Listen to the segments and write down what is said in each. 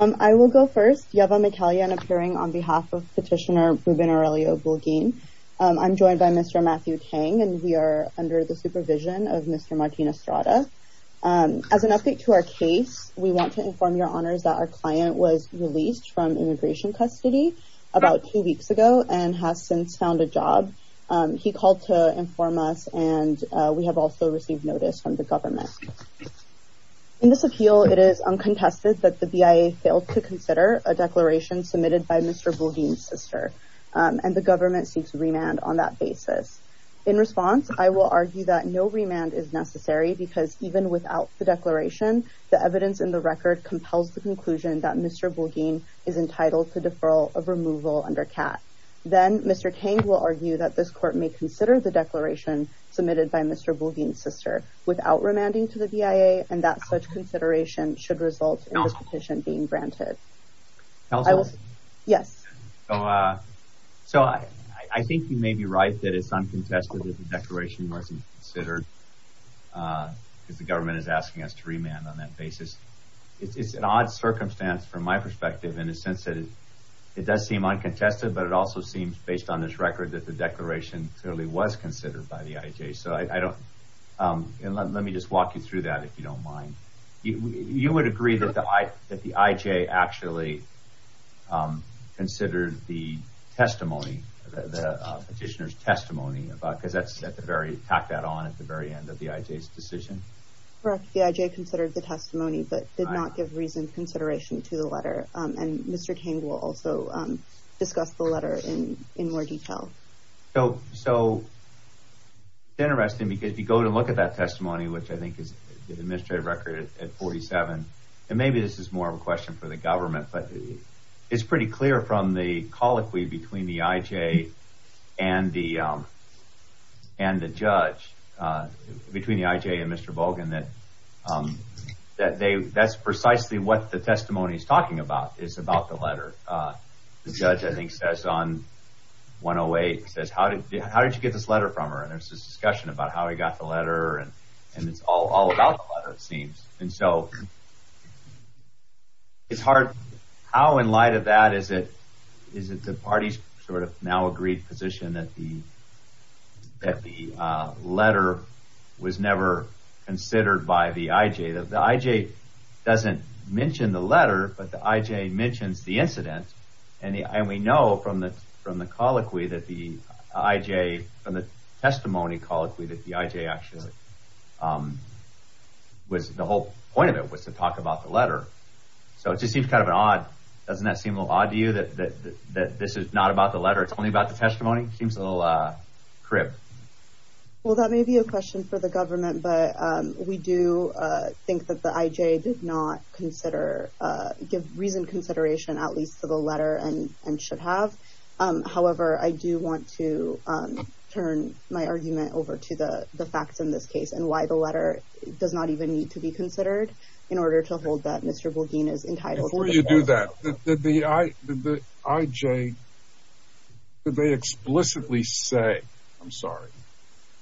I will go first, Yevva Mikhalyan appearing on behalf of Petitioner Ruben Aurelio Bulgin. I'm joined by Mr. Matthew Tang and we are under the supervision of Mr. Martín Estrada. As an update to our case, we want to inform your honors that our client was released from immigration custody about two weeks ago and has since found a job. He called to inform us and we have also received notice from the government. In this appeal, it is uncontested that the BIA failed to consider a declaration submitted by Mr. Bulgin's sister and the government seeks remand on that basis. In response, I will argue that no remand is necessary because even without the declaration, the evidence in the record compels the conclusion that Mr. Bulgin is entitled to deferral of removal under CAT. Then Mr. Tang will argue that this court may consider the declaration submitted by Mr. Bulgin's sister without remanding to the BIA and that such consideration should result in this petition being granted. So I think you may be right that it's uncontested that the declaration wasn't considered because the government is asking us to remand on that basis. It's an odd circumstance from my perspective in the sense that it does seem uncontested but it also seems based on this record that the declaration clearly was considered by the IJ. Let me just walk you through that if you don't mind. You would agree that the IJ actually considered the petitioner's testimony? Because that's at the very end of the IJ's decision? Correct. The IJ considered the testimony but did not give reasoned consideration to the letter. And Mr. Tang will also discuss the letter in more detail. So it's interesting because if you go to look at that testimony which I think is the administrative record at 47 and maybe this is more of a question for the government but it's pretty clear from the colloquy between the IJ and the judge, between the IJ and Mr. Bulgin that that's precisely what the testimony is talking about. It's about the letter. The judge I think says on 108, says how did you get this letter from her? And there's this discussion about how he got the letter and it's all about the letter it seems. And so it's hard, how in light of that is it the parties sort of now agreed position that the letter was never considered by the IJ? The IJ doesn't mention the letter but the IJ mentions the incident and we know from the testimony colloquy that the IJ actually, the whole point of it was to talk about the letter. So it just seems kind of odd, doesn't that seem a little odd to you that this is not about the letter it's only about the testimony? Seems a little crib. Well that may be a question for the government but we do think that the IJ did not consider, give reasoned consideration at least to the letter and should have. However I do want to turn my argument over to the facts in this case and why the letter does not even need to be considered in order to hold that Mr. Bulgin is entitled. Before you do that, did the IJ explicitly say, I'm sorry,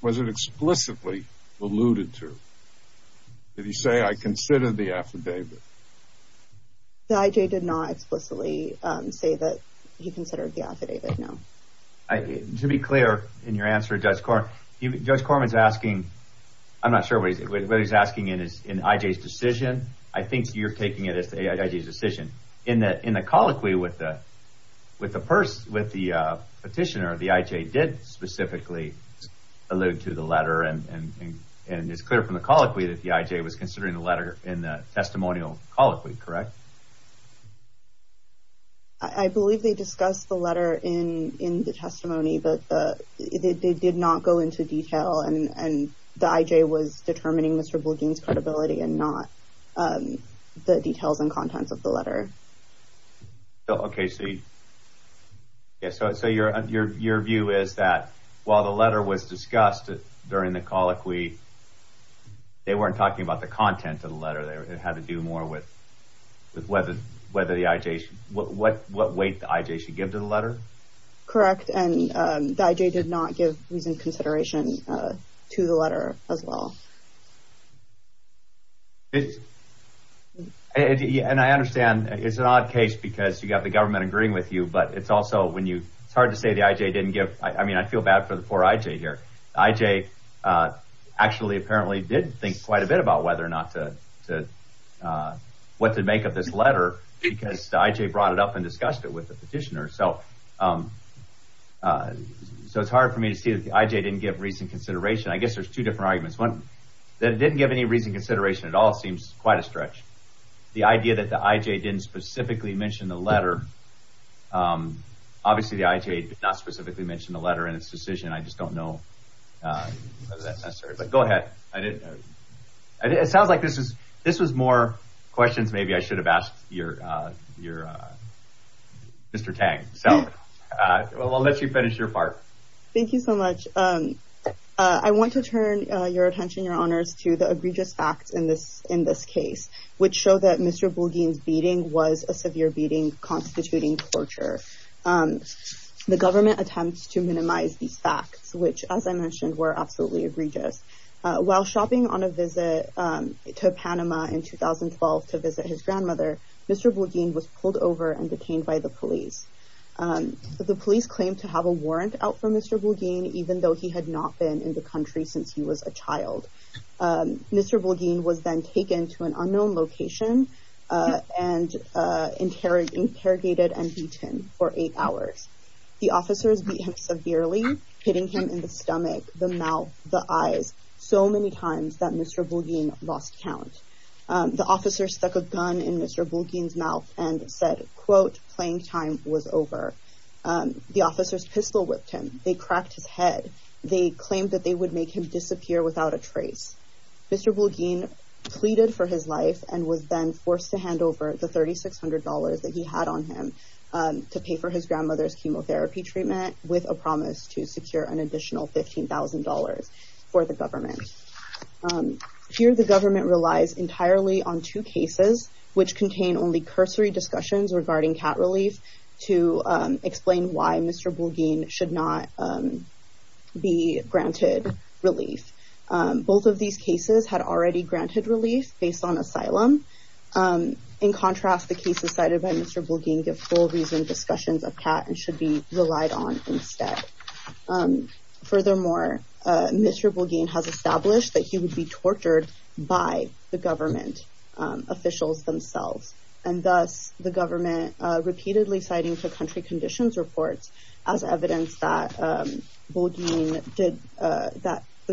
was it explicitly alluded to, did he say I consider the affidavit? The IJ did not explicitly say that he considered the affidavit, no. To be clear in your answer Judge Corman is asking, I'm not sure what he's asking in IJ's decision, I think you're taking it as the IJ's decision. In the colloquy with the petitioner, the IJ did specifically allude to the letter and it's clear from the colloquy that the IJ was considering the letter in the testimonial colloquy, correct? I believe they discussed the letter in the testimony but they did not go into detail and the IJ was determining Mr. Bulgin's credibility and not the details and contents of the letter. Okay, so your view is that while the letter was discussed during the colloquy, they weren't talking about the content of the letter, it had to do more with what weight the IJ should give to the letter? Correct, and the IJ did not give reasoned consideration to the letter as well. And I understand it's an odd case because you have the government agreeing with you but it's also when you, it's hard to say the IJ didn't give, I mean I feel bad for the poor IJ here, the IJ actually apparently did think quite a bit about whether or not to, what to make of this letter because the IJ brought it up and discussed it with the petitioner. So it's hard for me to see that the IJ didn't give reasoned consideration. I guess there's two different arguments. One, that it didn't give any reasoned consideration at all seems quite a stretch. The idea that the IJ didn't specifically mention the letter, obviously the IJ did not specifically mention the letter in its decision, I just don't know whether that's necessary. Go ahead. It sounds like this was more questions maybe I should have asked Mr. Tang. So I'll let you finish your part. Thank you so much. I want to turn your attention, your honors, to the egregious facts in this case which show that Mr. Bulgin's beating was a severe beating constituting torture. The government attempts to minimize these facts which, as I mentioned, were absolutely egregious. While shopping on a visit to Panama in 2012 to visit his grandmother, Mr. Bulgin was pulled over and detained by the police. The police claimed to have a warrant out for Mr. Bulgin, even though he had not been in the country since he was a child. Mr. Bulgin was then taken to an unknown location and interrogated and beaten for eight hours. The officers beat him severely, hitting him in the stomach, the mouth, the eyes, so many times that Mr. Bulgin lost count. The officers stuck a gun in Mr. Bulgin's mouth and said, quote, playing time was over. The officers pistol whipped him. They cracked his head. They claimed that they would make him disappear without a trace. Mr. Bulgin pleaded for his life and was then forced to hand over the $3,600 that he had on him to pay for his grandmother's chemotherapy treatment with a promise to secure an additional $15,000 for the government. Here the government relies entirely on two cases which contain only cursory discussions regarding cat relief to explain why Mr. Bulgin should not be granted relief. Both of these cases had already granted relief based on asylum. In contrast, the cases cited by Mr. Bulgin give full reasoned discussions of cat and should be relied on instead. Furthermore, Mr. Bulgin has established that he would be tortured by the government officials themselves. And thus, the government repeatedly citing to country conditions reports as evidence that the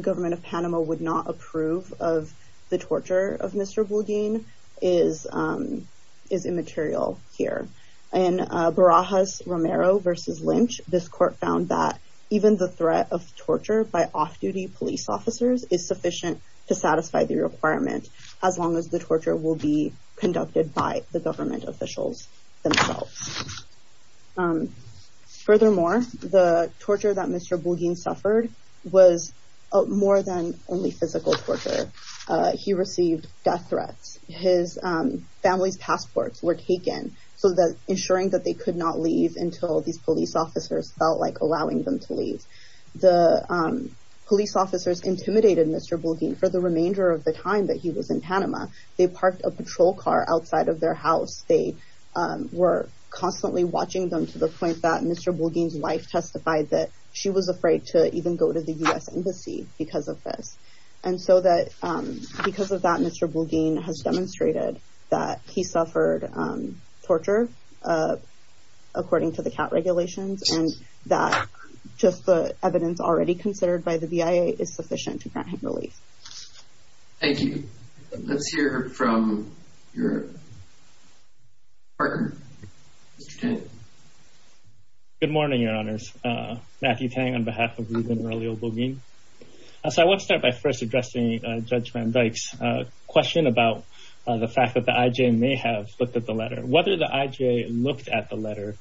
government of Panama would not approve of the torture of Mr. Bulgin is immaterial here. In Barajas-Romero v. Lynch, this court found that even the threat of torture by off-duty police officers is sufficient to satisfy the requirement as long as the torture will be conducted by the government officials themselves. Furthermore, the torture that Mr. Bulgin suffered was more than only physical torture. He received death threats. His family's passports were taken, ensuring that they could not leave until these police officers felt like allowing them to leave. The police officers intimidated Mr. Bulgin for the remainder of the time that he was in Panama. They parked a patrol car outside of their house. They were constantly watching them to the point that Mr. Bulgin's wife testified that she was afraid to even go to the U.S. embassy because of this. And so that because of that, Mr. Bulgin has demonstrated that he suffered torture according to the CAT regulations and that just the evidence already considered by the BIA is sufficient to grant him relief. Thank you. Let's hear from your partner, Mr. Tang. Good morning, Your Honors. Matthew Tang on behalf of Ruben Murillo Bulgin. So I want to start by first addressing Judge Van Dyke's question about the fact that the IJ may have looked at the letter. Whether the IJ looked at the letter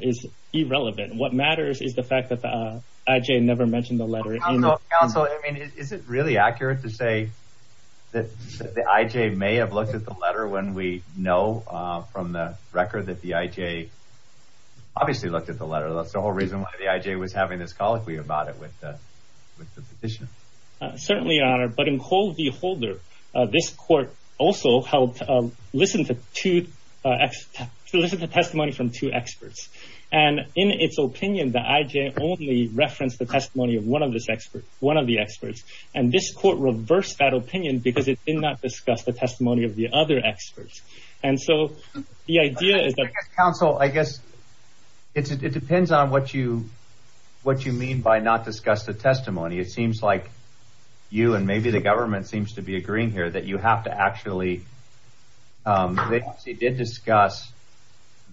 is irrelevant. What matters is the fact that the IJ never mentioned the letter. Counsel, I mean, is it really accurate to say that the IJ may have looked at the letter when we know from the record that the IJ obviously looked at the letter? That's the whole reason why the IJ was having this colloquy about it with the petition. Certainly, Your Honor. But in coldly holder, this court also helped listen to two to listen to testimony from two experts. And in its opinion, the IJ only referenced the testimony of one of this expert, one of the experts. And this court reversed that opinion because it did not discuss the testimony of the other experts. And so the idea is that counsel, I guess it depends on what you what you mean by not discuss the testimony. It seems like you and maybe the government seems to be agreeing here that you have to actually. They did discuss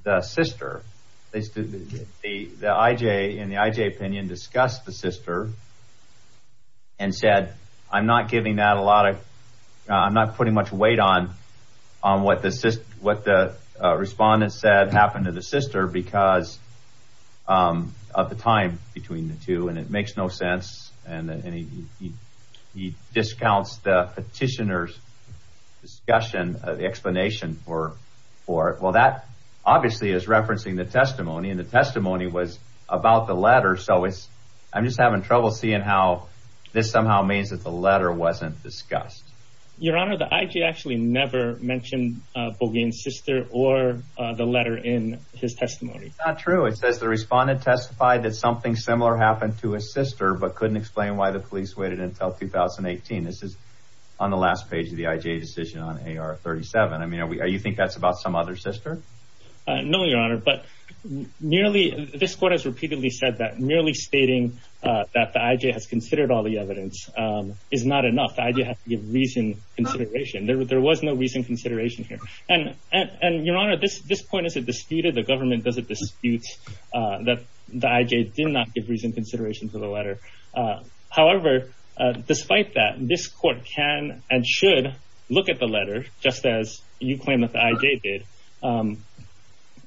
the sister. The IJ in the IJ opinion discussed the sister. And said, I'm not giving that a lot. I'm not putting much weight on on what this is, what the respondents said happened to the sister because of the time between the two. And it makes no sense. And he discounts the petitioner's discussion explanation for four. Well, that obviously is referencing the testimony and the testimony was about the letter. So it's I'm just having trouble seeing how this somehow means that the letter wasn't discussed. Your Honor, the IJ actually never mentioned Bogey and sister or the letter in his testimony. It's not true. It says the respondent testified that something similar happened to a sister, but couldn't explain why the police waited until 2018. This is on the last page of the IJ decision on A.R. 37. I mean, are you think that's about some other sister? No, Your Honor. But nearly this court has repeatedly said that merely stating that the IJ has considered all the evidence is not enough. I do have to give reason consideration. There was no reason consideration here. And and Your Honor, this this point is a disputed the government doesn't dispute that the IJ did not give reason consideration to the letter. However, despite that, this court can and should look at the letter just as you claim that the IJ did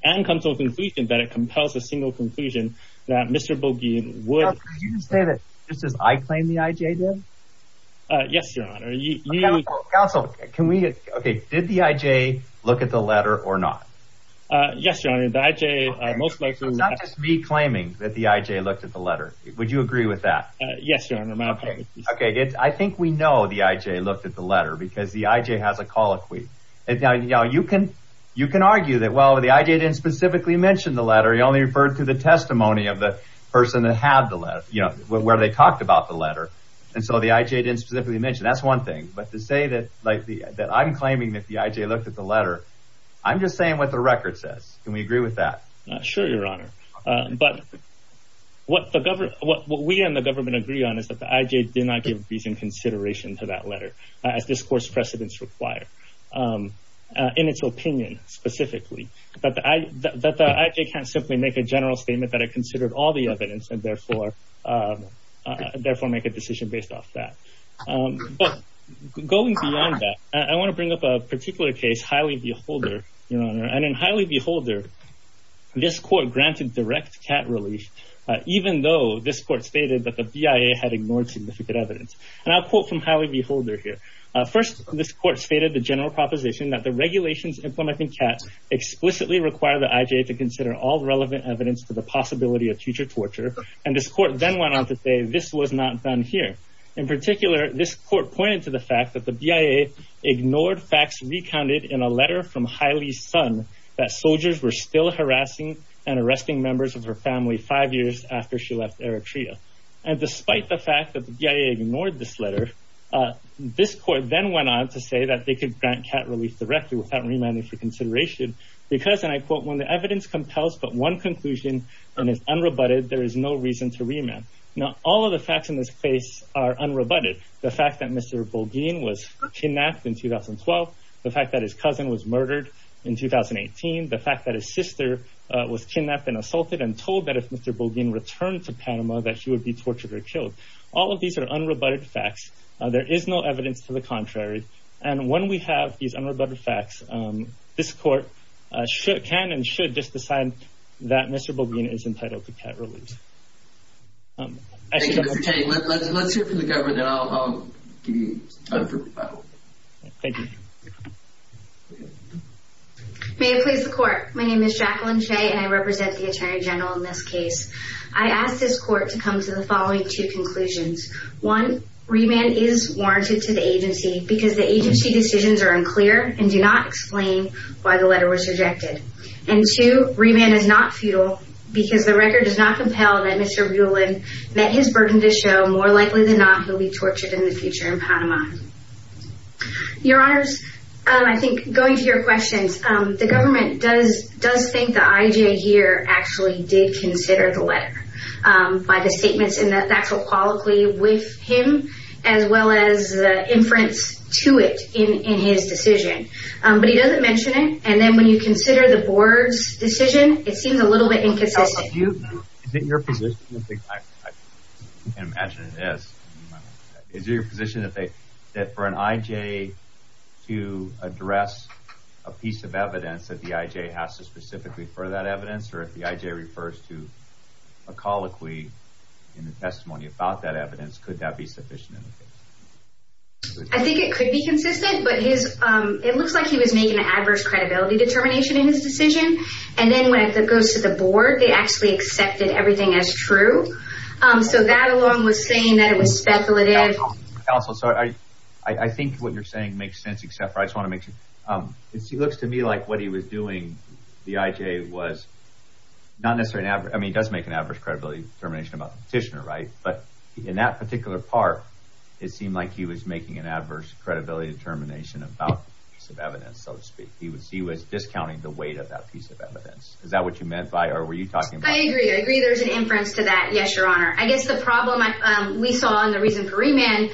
and come to a conclusion that it compels a single conclusion that Mr. Bogey would say that. This is I claim the IJ did. Yes, Your Honor. Counsel, can we. OK. Did the IJ look at the letter or not? Yes, Your Honor. The IJ most likely not just me claiming that the IJ looked at the letter. Would you agree with that? Yes, Your Honor. OK. OK. I think we know the IJ looked at the letter because the IJ has a colloquy. You can you can argue that. Well, the IJ didn't specifically mention the letter. He only referred to the testimony of the person that had the letter, you know, where they talked about the letter. And so the IJ didn't specifically mention that's one thing. But to say that like that, I'm claiming that the IJ looked at the letter. I'm just saying what the record says. Can we agree with that? Not sure, Your Honor. But what the government what we and the government agree on is that the IJ did not give reason consideration to that letter. As this court's precedents require in its opinion specifically, that the IJ can't simply make a general statement that it considered all the evidence and therefore therefore make a decision based off that. But going beyond that, I want to bring up a particular case, highly beholder. And in highly beholder, this court granted direct cat relief, even though this court stated that the BIA had ignored significant evidence. And I'll quote from highly beholder here. First, this court stated the general proposition that the regulations implementing cats explicitly require the IJ to consider all relevant evidence to the possibility of future torture. And this court then went on to say this was not done here. In particular, this court pointed to the fact that the BIA ignored facts recounted in a letter from Haile's son that soldiers were still harassing and arresting members of her family five years after she left Eritrea. And despite the fact that the BIA ignored this letter, this court then went on to say that they could grant cat relief directly without remanding for consideration. Because, and I quote, when the evidence compels but one conclusion and is unrebutted, there is no reason to remand. Now, all of the facts in this case are unrebutted. The fact that Mr. Bogeen was kidnapped in 2012, the fact that his cousin was murdered in 2018, the fact that his sister was kidnapped and assaulted and told that if Mr. Bogeen returned to Panama that she would be tortured or killed. All of these are unrebutted facts. There is no evidence to the contrary. And when we have these unrebutted facts, this court can and should just decide that Mr. Bogeen is entitled to cat relief. Thank you, Mr. Chay. Let's hear from the government and I'll give you some time for rebuttal. Thank you. May it please the court. My name is Jacqueline Chay and I represent the Attorney General in this case. I ask this court to come to the following two conclusions. One, remand is warranted to the agency because the agency decisions are unclear and do not explain why the letter was rejected. And two, remand is not futile because the record does not compel that Mr. Rulon met his burden to show more likely than not he'll be tortured in the future in Panama. Your Honors, I think going to your questions, the government does think that I.J. here actually did consider the letter by the statements in the factual quality with him as well as the inference to it in his decision. But he doesn't mention it and then when you consider the board's decision, it seems a little bit inconsistent. Is it your position that for an I.J. to address a piece of evidence that the I.J. has to specifically for that evidence or if the I.J. refers to a colloquy in the testimony about that evidence, could that be sufficient? I think it could be consistent, but it looks like he was making an adverse credibility determination in his decision. And then when it goes to the board, they actually accepted everything as true. So that alone was saying that it was speculative. Counsel, I think what you're saying makes sense. Except for I just want to make sure it looks to me like what he was doing. The I.J. was not necessarily. I mean, he does make an adverse credibility determination about the petitioner. But in that particular part, it seemed like he was making an adverse credibility determination about the piece of evidence, so to speak. He was discounting the weight of that piece of evidence. Is that what you meant by or were you talking about? I agree. I agree there's an inference to that. Yes, your honor. I guess the problem we saw and the reason for remand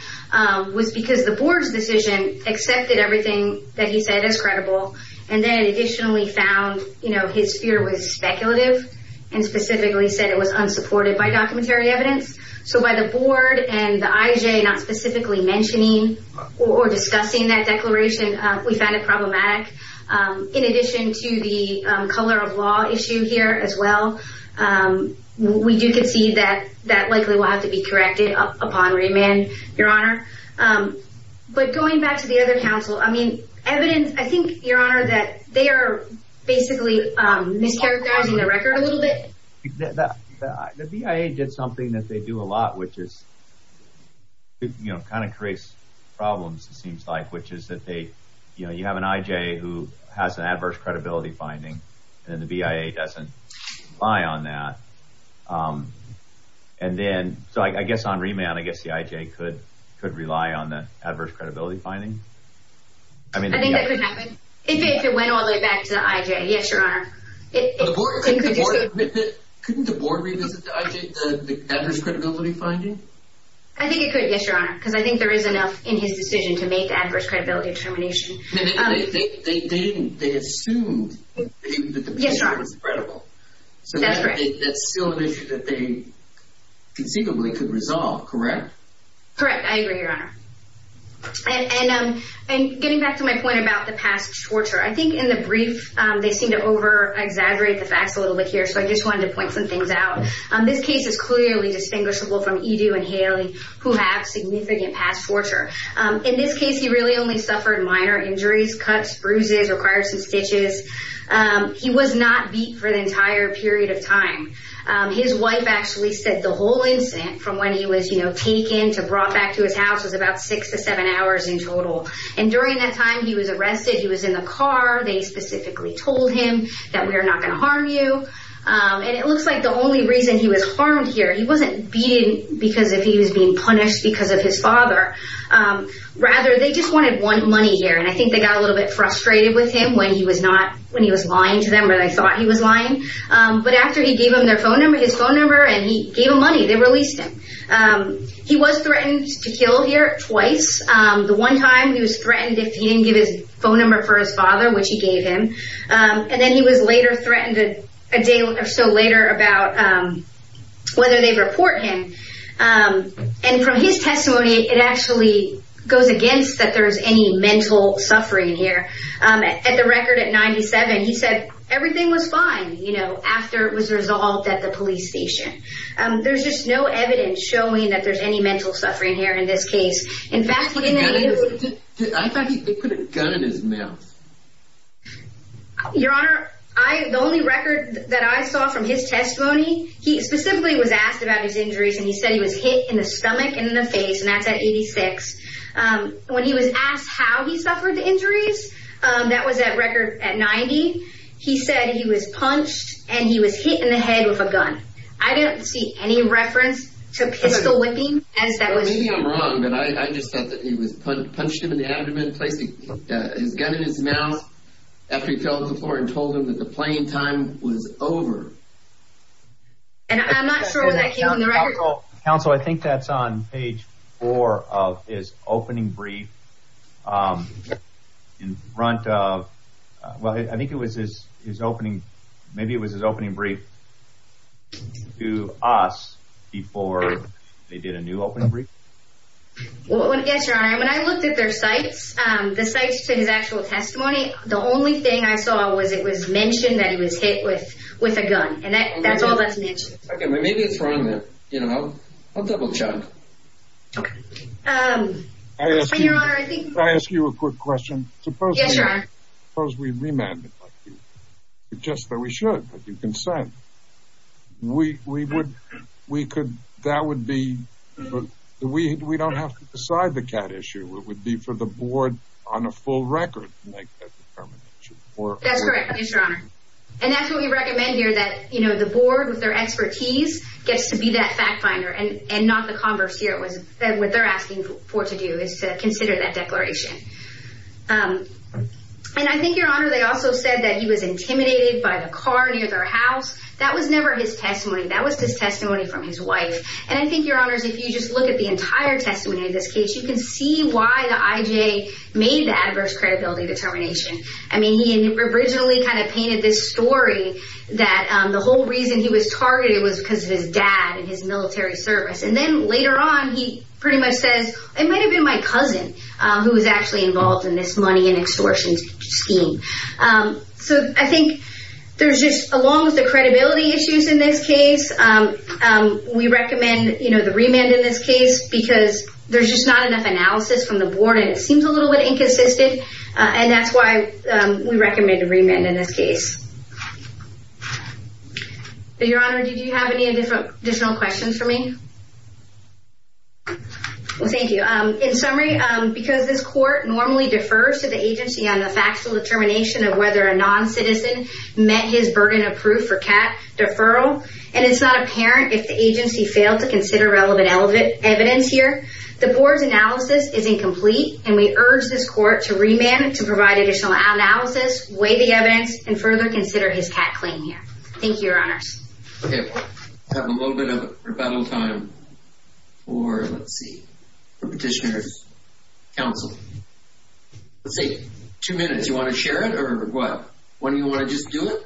was because the board's decision accepted everything that he said is credible. And then additionally found, you know, his fear was speculative and specifically said it was unsupported by documentary evidence. So by the board and the I.J. not specifically mentioning or discussing that declaration, we found it problematic. In addition to the color of law issue here as well. We do concede that that likely will have to be corrected upon remand, your honor. But going back to the other counsel, I mean, evidence, I think, your honor, that they are basically mischaracterizing the record a little bit. The B.I.A. did something that they do a lot, which is, you know, kind of creates problems, it seems like, which is that they, you know, you have an I.J. who has an adverse credibility finding and the B.I.A. doesn't rely on that. And then so I guess on remand, I guess the I.J. could could rely on the adverse credibility finding. I mean, I think that could happen if it went all the way back to the I.J. Yes, your honor. Couldn't the board revisit the I.J., the adverse credibility finding? I think it could. Yes, your honor. Because I think there is enough in his decision to make the adverse credibility determination. They didn't. They assumed that the B.I.A. was credible. That's correct. So that's still an issue that they conceivably could resolve, correct? Correct. I agree, your honor. And getting back to my point about the past torture, I think in the brief, they seem to over-exaggerate the facts a little bit here. So I just wanted to point some things out. This case is clearly distinguishable from Edu and Haley, who have significant past torture. In this case, he really only suffered minor injuries, cuts, bruises, required some stitches. He was not beat for the entire period of time. His wife actually said the whole incident from when he was taken to brought back to his house was about six to seven hours in total. And during that time, he was arrested. He was in the car. They specifically told him that we are not going to harm you. And it looks like the only reason he was harmed here, he wasn't beaten because he was being punished because of his father. Rather, they just wanted money here. And I think they got a little bit frustrated with him when he was lying to them or they thought he was lying. But after he gave them their phone number, his phone number, and he gave them money, they released him. He was threatened to kill here twice. The one time, he was threatened if he didn't give his phone number for his father, which he gave him. And then he was later threatened a day or so later about whether they report him. And from his testimony, it actually goes against that there's any mental suffering here. At the record at 97, he said everything was fine, you know, after it was resolved at the police station. There's just no evidence showing that there's any mental suffering here in this case. In fact, in the interview. I thought he put a gun in his mouth. Your Honor, the only record that I saw from his testimony, he specifically was asked about his injuries, and he said he was hit in the stomach and in the face. And that's at 86. When he was asked how he suffered the injuries, that was at record at 90. He said he was punched and he was hit in the head with a gun. I didn't see any reference to pistol whipping as that was. Maybe I'm wrong, but I just thought that he was punched in the abdomen. He put his gun in his mouth after he fell to the floor and told him that the playing time was over. And I'm not sure when that came on the record. Counsel, I think that's on page four of his opening brief. I think it was his opening. Maybe it was his opening brief to us before they did a new opening brief. Yes, Your Honor. When I looked at their cites, the cites to his actual testimony, the only thing I saw was it was mentioned that he was hit with a gun. And that's all that's mentioned. Maybe it's wrong there. I'll double check. Your Honor, I think... Can I ask you a quick question? Yes, Your Honor. Suppose we remanded him. Just that we should, if you consent. We would... We could... That would be... We don't have to decide the cat issue. It would be for the board on a full record to make that determination. That's correct. Yes, Your Honor. And that's what we recommend here, that the board with their expertise gets to be that fact finder and not the converse here. What they're asking for to do is to consider that declaration. And I think, Your Honor, they also said that he was intimidated by the car near their house. That was never his testimony. That was his testimony from his wife. And I think, Your Honor, if you just look at the entire testimony of this case, you can see why the IJ made the adverse credibility determination. I mean, he originally kind of painted this story that the whole reason he was targeted was because of his dad and his military service. And then later on, he pretty much says, it might have been my cousin who was actually involved in this money extortion scheme. So I think there's just, along with the credibility issues in this case, we recommend the remand in this case because there's just not enough analysis from the board and it seems a little bit inconsistent. And that's why we recommend a remand in this case. Your Honor, did you have any additional questions for me? Well, thank you. In summary, because this court normally defers to the agency on the factual determination of whether a non-citizen met his burden of proof for cat deferral, and it's not apparent if the agency failed to consider relevant evidence here, the board's analysis is incomplete, and we urge this court to remand to provide additional analysis, weigh the evidence, and further consider his cat claim here. Thank you, Your Honors. Okay, I have a little bit of rebuttal time for, let's see, for Petitioner's Counsel. Let's see, two minutes. Do you want to share it or what? Or do you want to just do it?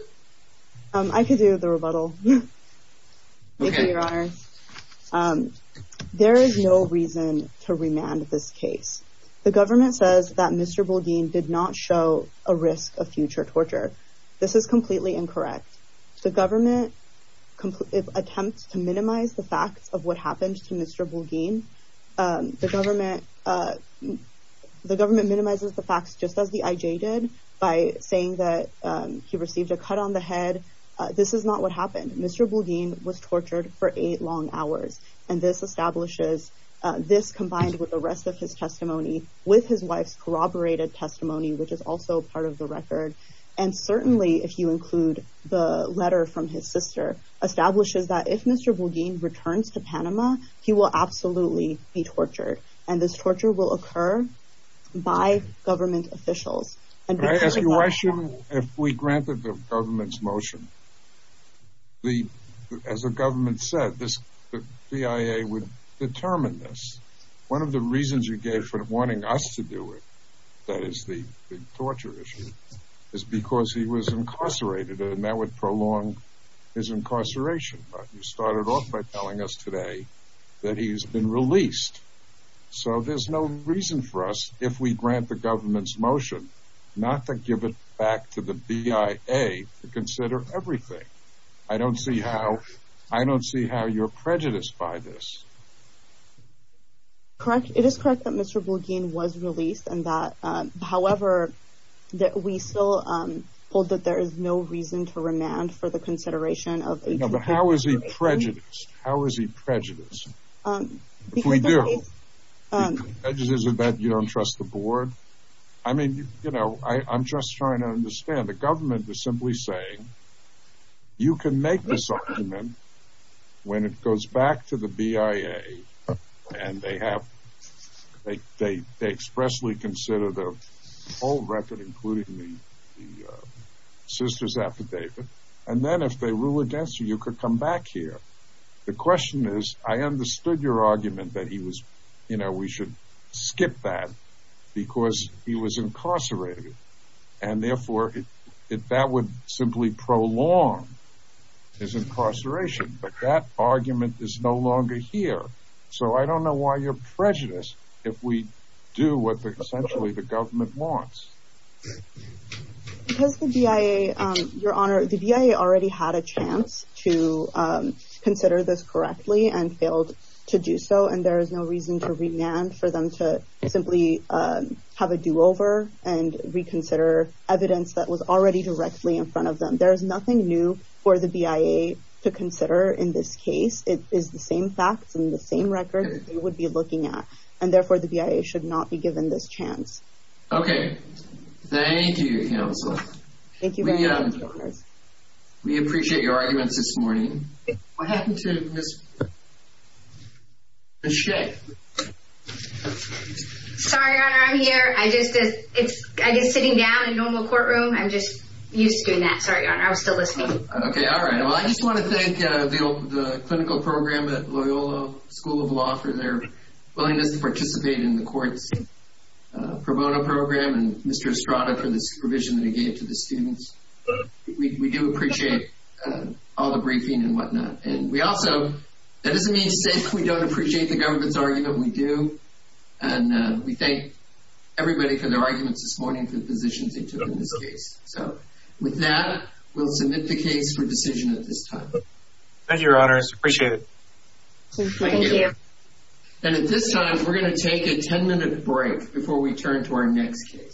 I could do the rebuttal. Okay. Thank you, Your Honors. There is no reason to remand this case. The government says that Mr. Bullein did not show a risk of future torture. This is completely incorrect. The government attempts to minimize the facts of what happened to Mr. Bullein. The government minimizes the facts just as the IJ did by saying that he received a cut on the head. This is not what happened. Mr. Bullein was tortured for eight long hours, and this establishes this combined with the rest of his testimony with his wife's corroborated testimony, which is also part of the record. And certainly, if you include the letter from his sister, establishes that if Mr. Bullein returns to Panama, he will absolutely be tortured, and this torture will occur by government officials. Can I ask you a question? If we granted the government's motion, as the government said, the CIA would determine this. One of the reasons you gave for wanting us to do it, that is the torture issue, is because he was incarcerated, and that would prolong his incarceration. But you started off by telling us today that he has been released. So there's no reason for us, if we grant the government's motion, not to give it back to the BIA to consider everything. I don't see how you're prejudiced by this. It is correct that Mr. Bullein was released. However, we still hold that there is no reason to remand for the consideration of 18-year-olds. But how is he prejudiced? How is he prejudiced? If we do, is it that you don't trust the board? I mean, I'm just trying to understand. The government is simply saying, you can make this argument when it goes back to the BIA and they expressly consider the whole record, including the sister's affidavit, and then if they rule against you, you can come back here. The question is, I understood your argument that we should skip that because he was incarcerated, and therefore that would simply prolong his incarceration. But that argument is no longer here. So I don't know why you're prejudiced if we do what essentially the government wants. Because the BIA, Your Honor, the BIA already had a chance to consider this correctly and failed to do so, and there is no reason to remand for them to simply have a do-over and reconsider evidence that was already directly in front of them. There is nothing new for the BIA to consider in this case. It is the same facts and the same records they would be looking at, and therefore the BIA should not be given this chance. Okay. Thank you, counsel. Thank you very much, Your Honor. We appreciate your arguments this morning. What happened to Ms. Shea? Sorry, Your Honor, I'm here. I'm just sitting down in a normal courtroom. I'm just used to doing that. Sorry, Your Honor, I was still listening. Okay, all right. Well, I just want to thank the clinical program at Loyola School of Law for their willingness to participate in the court's pro bono program and Mr. Estrada for the supervision that he gave to the students. We do appreciate all the briefing and whatnot. And we also, that doesn't mean to say we don't appreciate the government's argument. We do, and we thank everybody for their arguments this morning for the positions they took in this case. So, with that, we'll submit the case for decision at this time. Thank you, Your Honor. I appreciate it. Thank you. And at this time, we're going to take a 10-minute break before we turn to our next case.